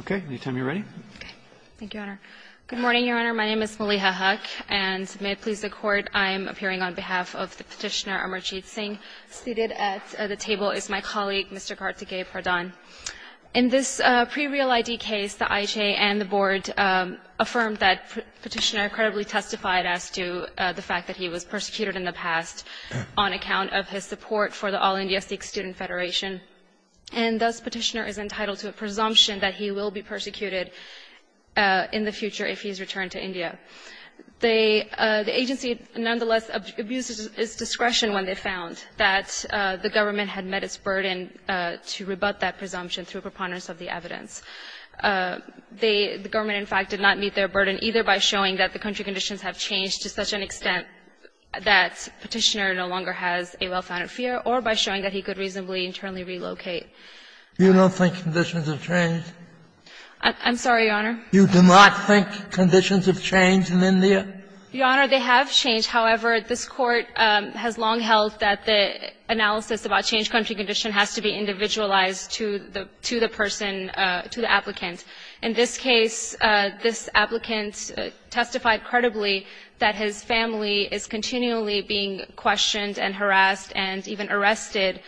Okay, anytime you're ready. Thank you, Your Honor. Good morning, Your Honor. My name is Maliha Haque, and may it please the Court, I am appearing on behalf of the petitioner Amarjeet Singh. Seated at the table is my colleague, Mr. Kartikey Pradhan. In this pre-real ID case, the IJ and the Board affirmed that the petitioner credibly testified as to the fact that he was persecuted in the past on account of his support for the All India Sikh Student Federation. And thus, petitioner is entitled to a presumption that he will be persecuted in the future if he is returned to India. The agency nonetheless abused its discretion when they found that the government had met its burden to rebut that presumption through preponderance of the evidence. The government, in fact, did not meet their burden either by showing that the country conditions have changed to such an extent that petitioner no longer has a well-founded fear or by showing that he could reasonably internally relocate. You don't think conditions have changed? I'm sorry, Your Honor? You do not think conditions have changed in India? Your Honor, they have changed. However, this Court has long held that the analysis about change country condition has to be individualized to the person, to the applicant. In this case, this applicant testified credibly that his family is continually being questioned and harassed and even arrested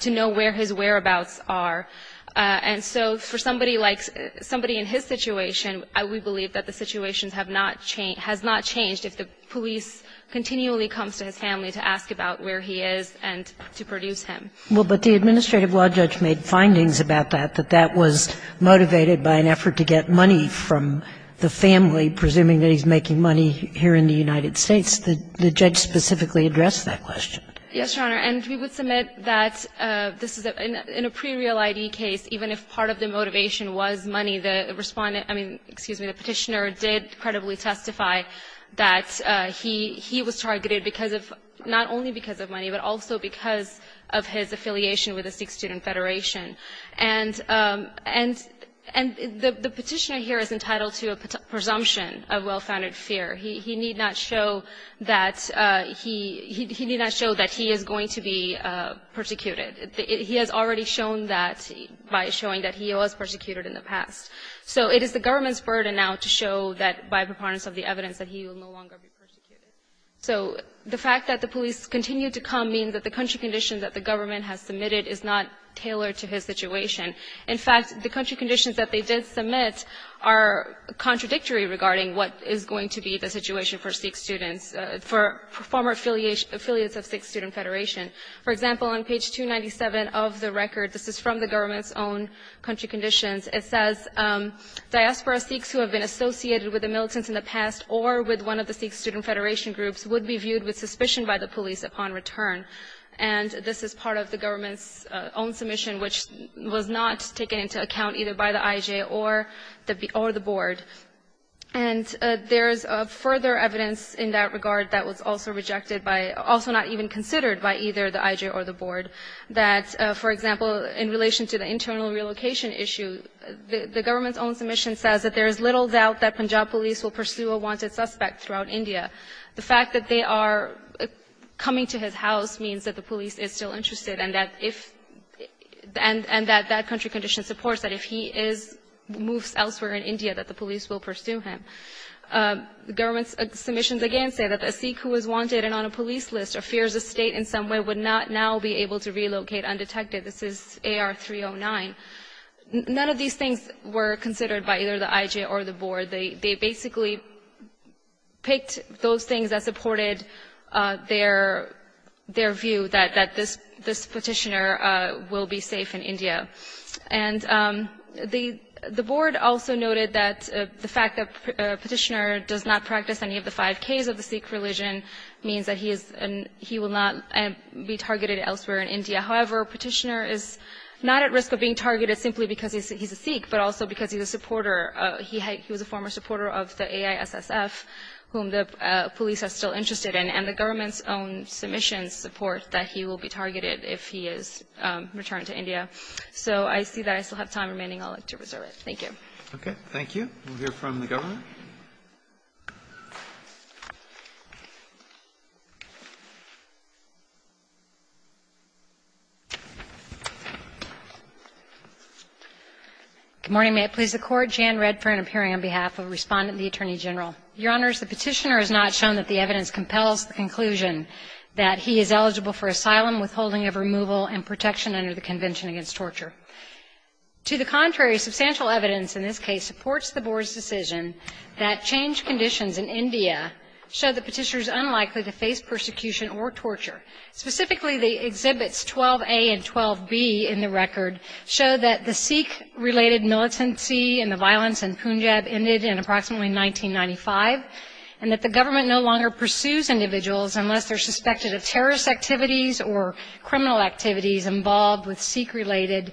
to know where his whereabouts are. And so for somebody like somebody in his situation, we believe that the situation has not changed if the police continually comes to his family to ask about where he is and to produce him. Well, but the administrative law judge made findings about that, that that was motivated by an effort to get money from the family, presuming that he's making money here in the United States. The judge specifically addressed that question. Yes, Your Honor. And we would submit that this is, in a pre-real ID case, even if part of the motivation was money, the respondent, I mean, excuse me, the petitioner did credibly testify that he was targeted because of, not only because of money, but also because of his affiliation with the Sikh Student Federation. And the petitioner here is entitled to a presumption of well-founded fear. He need not show that he is going to be persecuted. He has already shown that by showing that he was persecuted in the past. So it is the government's burden now to show that by preponderance of the evidence that he will no longer be persecuted. So the fact that the police continue to come means that the country condition that the government has submitted is not tailored to his situation. In fact, the country conditions that they did submit are contradictory regarding what is going to be the situation for Sikh students, for former affiliates of Sikh Student Federation. For example, on page 297 of the record, this is from the government's own country conditions. It says, diaspora Sikhs who have been associated with the militants in the past or with one of the Sikh Student Federation groups would be viewed with suspicion by the police upon return. And this is part of the government's own submission, which was not taken into account either by the IJ or the board. And there is further evidence in that regard that was also rejected by, also not even considered by either the IJ or the board, that, for example, in relation to the internal relocation issue, the government's own submission says that there is little doubt that Punjab police will pursue a wanted suspect throughout India. The fact that they are coming to his house means that the police is still interested and that if the end, and that that country condition supports that if he is, moves elsewhere in India, that the police will pursue him. The government's submissions again say that a Sikh who is wanted and on a police list or fears a State in some way would not now be able to relocate undetected. This is AR 309. None of these things were considered by either the IJ or the board. They basically picked those things that supported their view that this Petitioner will be safe in India. And the board also noted that the fact that Petitioner does not practice any of the five Ks of the Sikh religion means that he is, he will not be targeted elsewhere in India. However, Petitioner is not at risk of being targeted simply because he is a Sikh, but also because he is a supporter, he was a former supporter of the AISSF, whom the police are still interested in, and the government's own submissions support that he will be targeted if he is returned to India. So I see that I still have time remaining. I would like to reserve it. Thank you. Okay. Thank you. We'll hear from the government. Good morning. May it please the Court. Jan Redfern appearing on behalf of Respondent and the Attorney General. Your Honors, the Petitioner has not shown that the evidence compels the conclusion that he is eligible for asylum, withholding of removal and protection under the Convention against Torture. To the contrary, substantial evidence in this case supports the Board's decision that changed conditions in India show the Petitioner is unlikely to face persecution or torture. Specifically, the exhibits 12a and 12b in the record show that the Sikh-related militancy and the violence in Punjab ended in approximately 1995, and that the government no longer pursues individuals unless they're suspected of terrorist activities or criminal activities involved with Sikh-related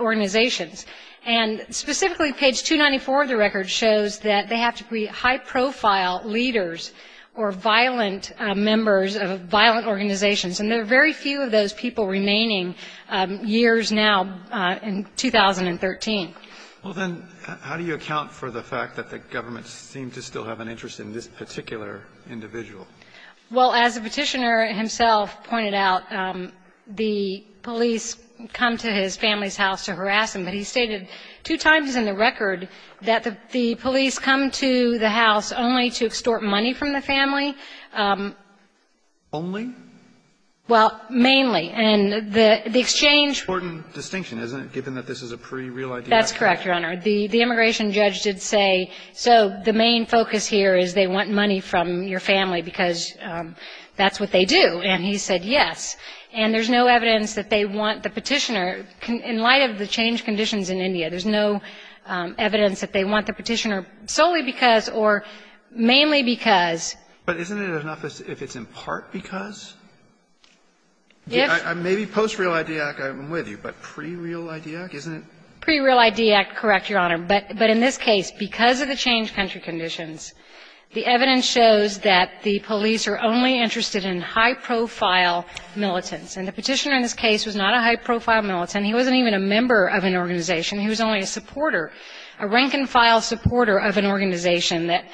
organizations. And specifically, page 294 of the record shows that they have to be high-profile leaders or violent members of violent organizations. And there are very few of those people remaining years now in 2013. Well, then, how do you account for the fact that the government seems to still have an interest in this particular individual? Well, as the Petitioner himself pointed out, the police come to his family's house to harass him, but he stated two times in the record that the police come to the house only to extort money from the family. Only? Well, mainly. And the exchange. An important distinction, isn't it, given that this is a pretty real idea? That's correct, Your Honor. The immigration judge did say, so the main focus here is they want money from your family because that's what they do. And he said, yes. And there's no evidence that they want the Petitioner. In light of the changed conditions in India, there's no evidence that they want the Petitioner solely because or mainly because. But isn't it enough if it's in part because? Yes. Maybe post-Real ID Act, I'm with you, but pre-Real ID Act, isn't it? Pre-Real ID Act, correct, Your Honor. But in this case, because of the changed country conditions, the evidence shows that the police are only interested in high-profile militants. And the Petitioner in this case was not a high-profile militant. He wasn't even a member of an organization. He was only a supporter, a rank-and-file supporter of an organization that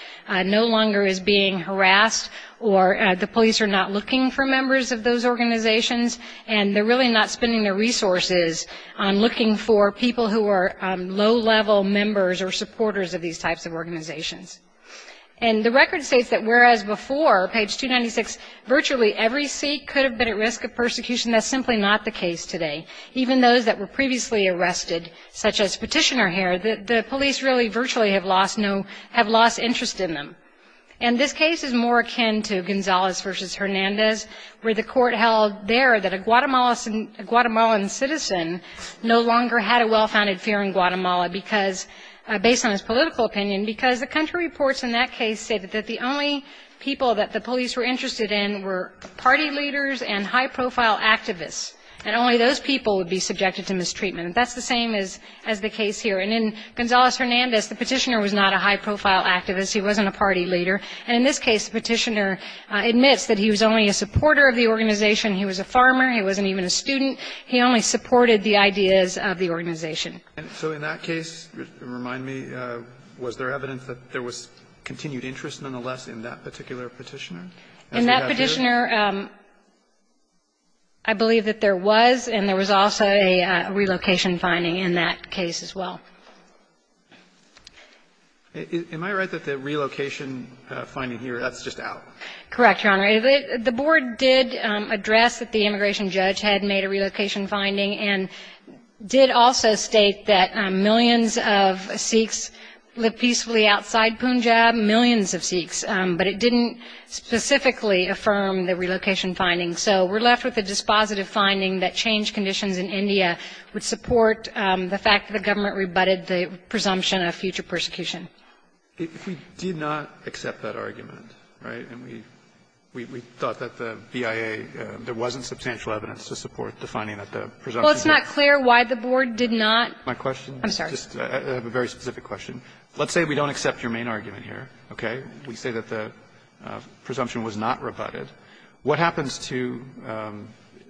no longer is being harassed or the police are not looking for members of those organizations and they're really not spending their resources on looking for people who are low-level members or supporters of these types of organizations. And the record states that whereas before, page 296, virtually every seat could have been at risk of persecution, that's simply not the case today. Even those that were previously arrested, such as Petitioner here, the police really virtually have lost interest in them. And this case is more akin to Gonzalez v. Hernandez, where the court held there that a Guatemalan citizen no longer had a well-founded fear in Guatemala because, based on his political opinion, because the country reports in that case stated that the only people that the police were interested in were party leaders and high-profile activists, and only those people would be subjected to mistreatment. That's the same as the case here. And in Gonzalez-Hernandez, the Petitioner was not a high-profile activist. He wasn't a party leader. And in this case, the Petitioner admits that he was only a supporter of the organization. He was a farmer. He wasn't even a student. He only supported the ideas of the organization. And so in that case, remind me, was there evidence that there was continued interest nonetheless in that particular Petitioner? In that Petitioner, I believe that there was, and there was also a relocation finding in that case as well. Am I right that the relocation finding here, that's just out? Correct, Your Honor. The board did address that the immigration judge had made a relocation finding and did also state that millions of Sikhs live peacefully outside Punjab, millions of Sikhs, but it didn't specifically affirm the relocation finding. So we're left with a dispositive finding that changed conditions in India would support the fact that the government rebutted the presumption of future persecution. If we did not accept that argument, right, and we thought that the BIA, there wasn't substantial evidence to support defining that the presumption was not rebutted. Well, it's not clear why the board did not. My question? I'm sorry. I have a very specific question. Let's say we don't accept your main argument here. Okay? We say that the presumption was not rebutted. What happens to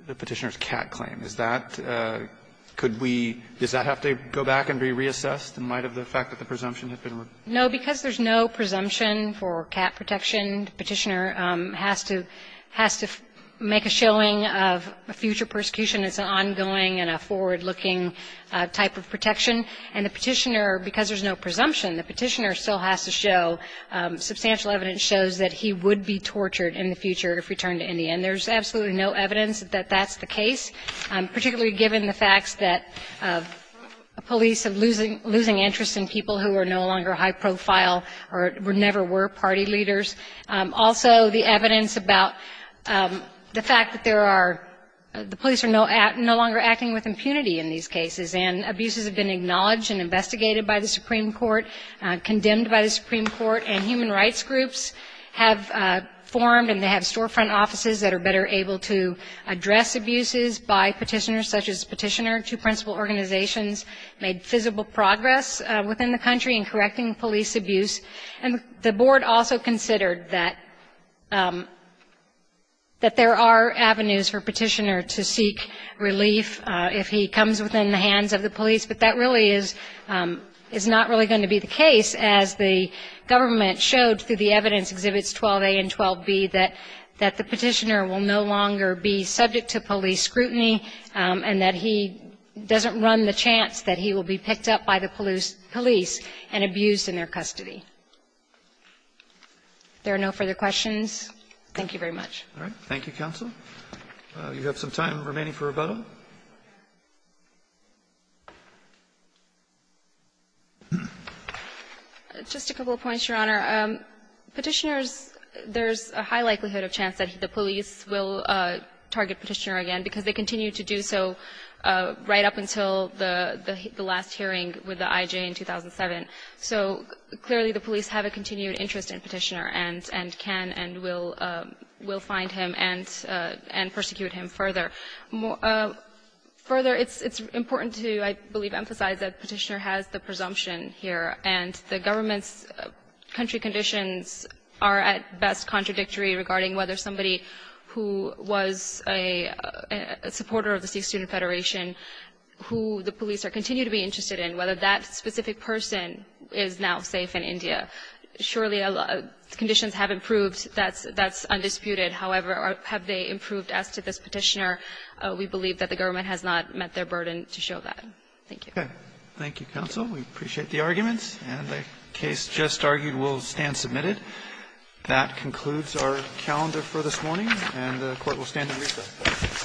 the Petitioner's cat claim? Is that, could we, does that have to go back and be reassessed in light of the fact that the presumption had been rebutted? No, because there's no presumption for cat protection, the Petitioner has to make a showing of future persecution as an ongoing and a forward-looking type of protection. And the Petitioner, because there's no presumption, the Petitioner still has to show, substantial evidence shows that he would be tortured in the future if returned to India. And there's absolutely no evidence that that's the case, particularly given the facts that police are losing interest in people who are no longer high profile or never were party leaders. Also, the evidence about the fact that there are, the police are no longer acting with impunity in these cases, and abuses have been acknowledged and investigated by the Supreme Court, condemned by the Supreme Court, and human rights groups have formed and they have storefront offices that are better able to address abuses by Petitioners, such as Petitioner. Two principal organizations made visible progress within the country in correcting police abuse. And the Board also considered that there are avenues for Petitioner to seek relief if he comes within the hands of the police, but that really is not really going to be the case, as the government showed through the evidence Exhibits 12a and 12b that the Petitioner will no longer be subject to police scrutiny and that he doesn't run the chance that he will be picked up by the police and abused in their custody. If there are no further questions, thank you very much. Roberts. Thank you, counsel. You have some time remaining for rebuttal. Just a couple of points, Your Honor. Petitioners, there's a high likelihood of chance that the police will target Petitioner again because they continue to do so right up until the last hearing with the IJ in 2007. So clearly, the police have a continued interest in Petitioner and can and will find him and persecute him further. Further, it's important to, I believe, emphasize that Petitioner has the presumption here, and the government's country conditions are at best contradictory regarding whether somebody who was a supporter of the Sikh Student Federation, who the police continue to be interested in, whether that specific person is now safe in India. Surely, conditions have improved. That's undisputed. However, have they improved as to this Petitioner? We believe that the government has not met their burden to show that. Thank you. Okay. Thank you, counsel. We appreciate the arguments, and the case just argued will stand submitted. That concludes our calendar for this morning, and the Court will stand in recess.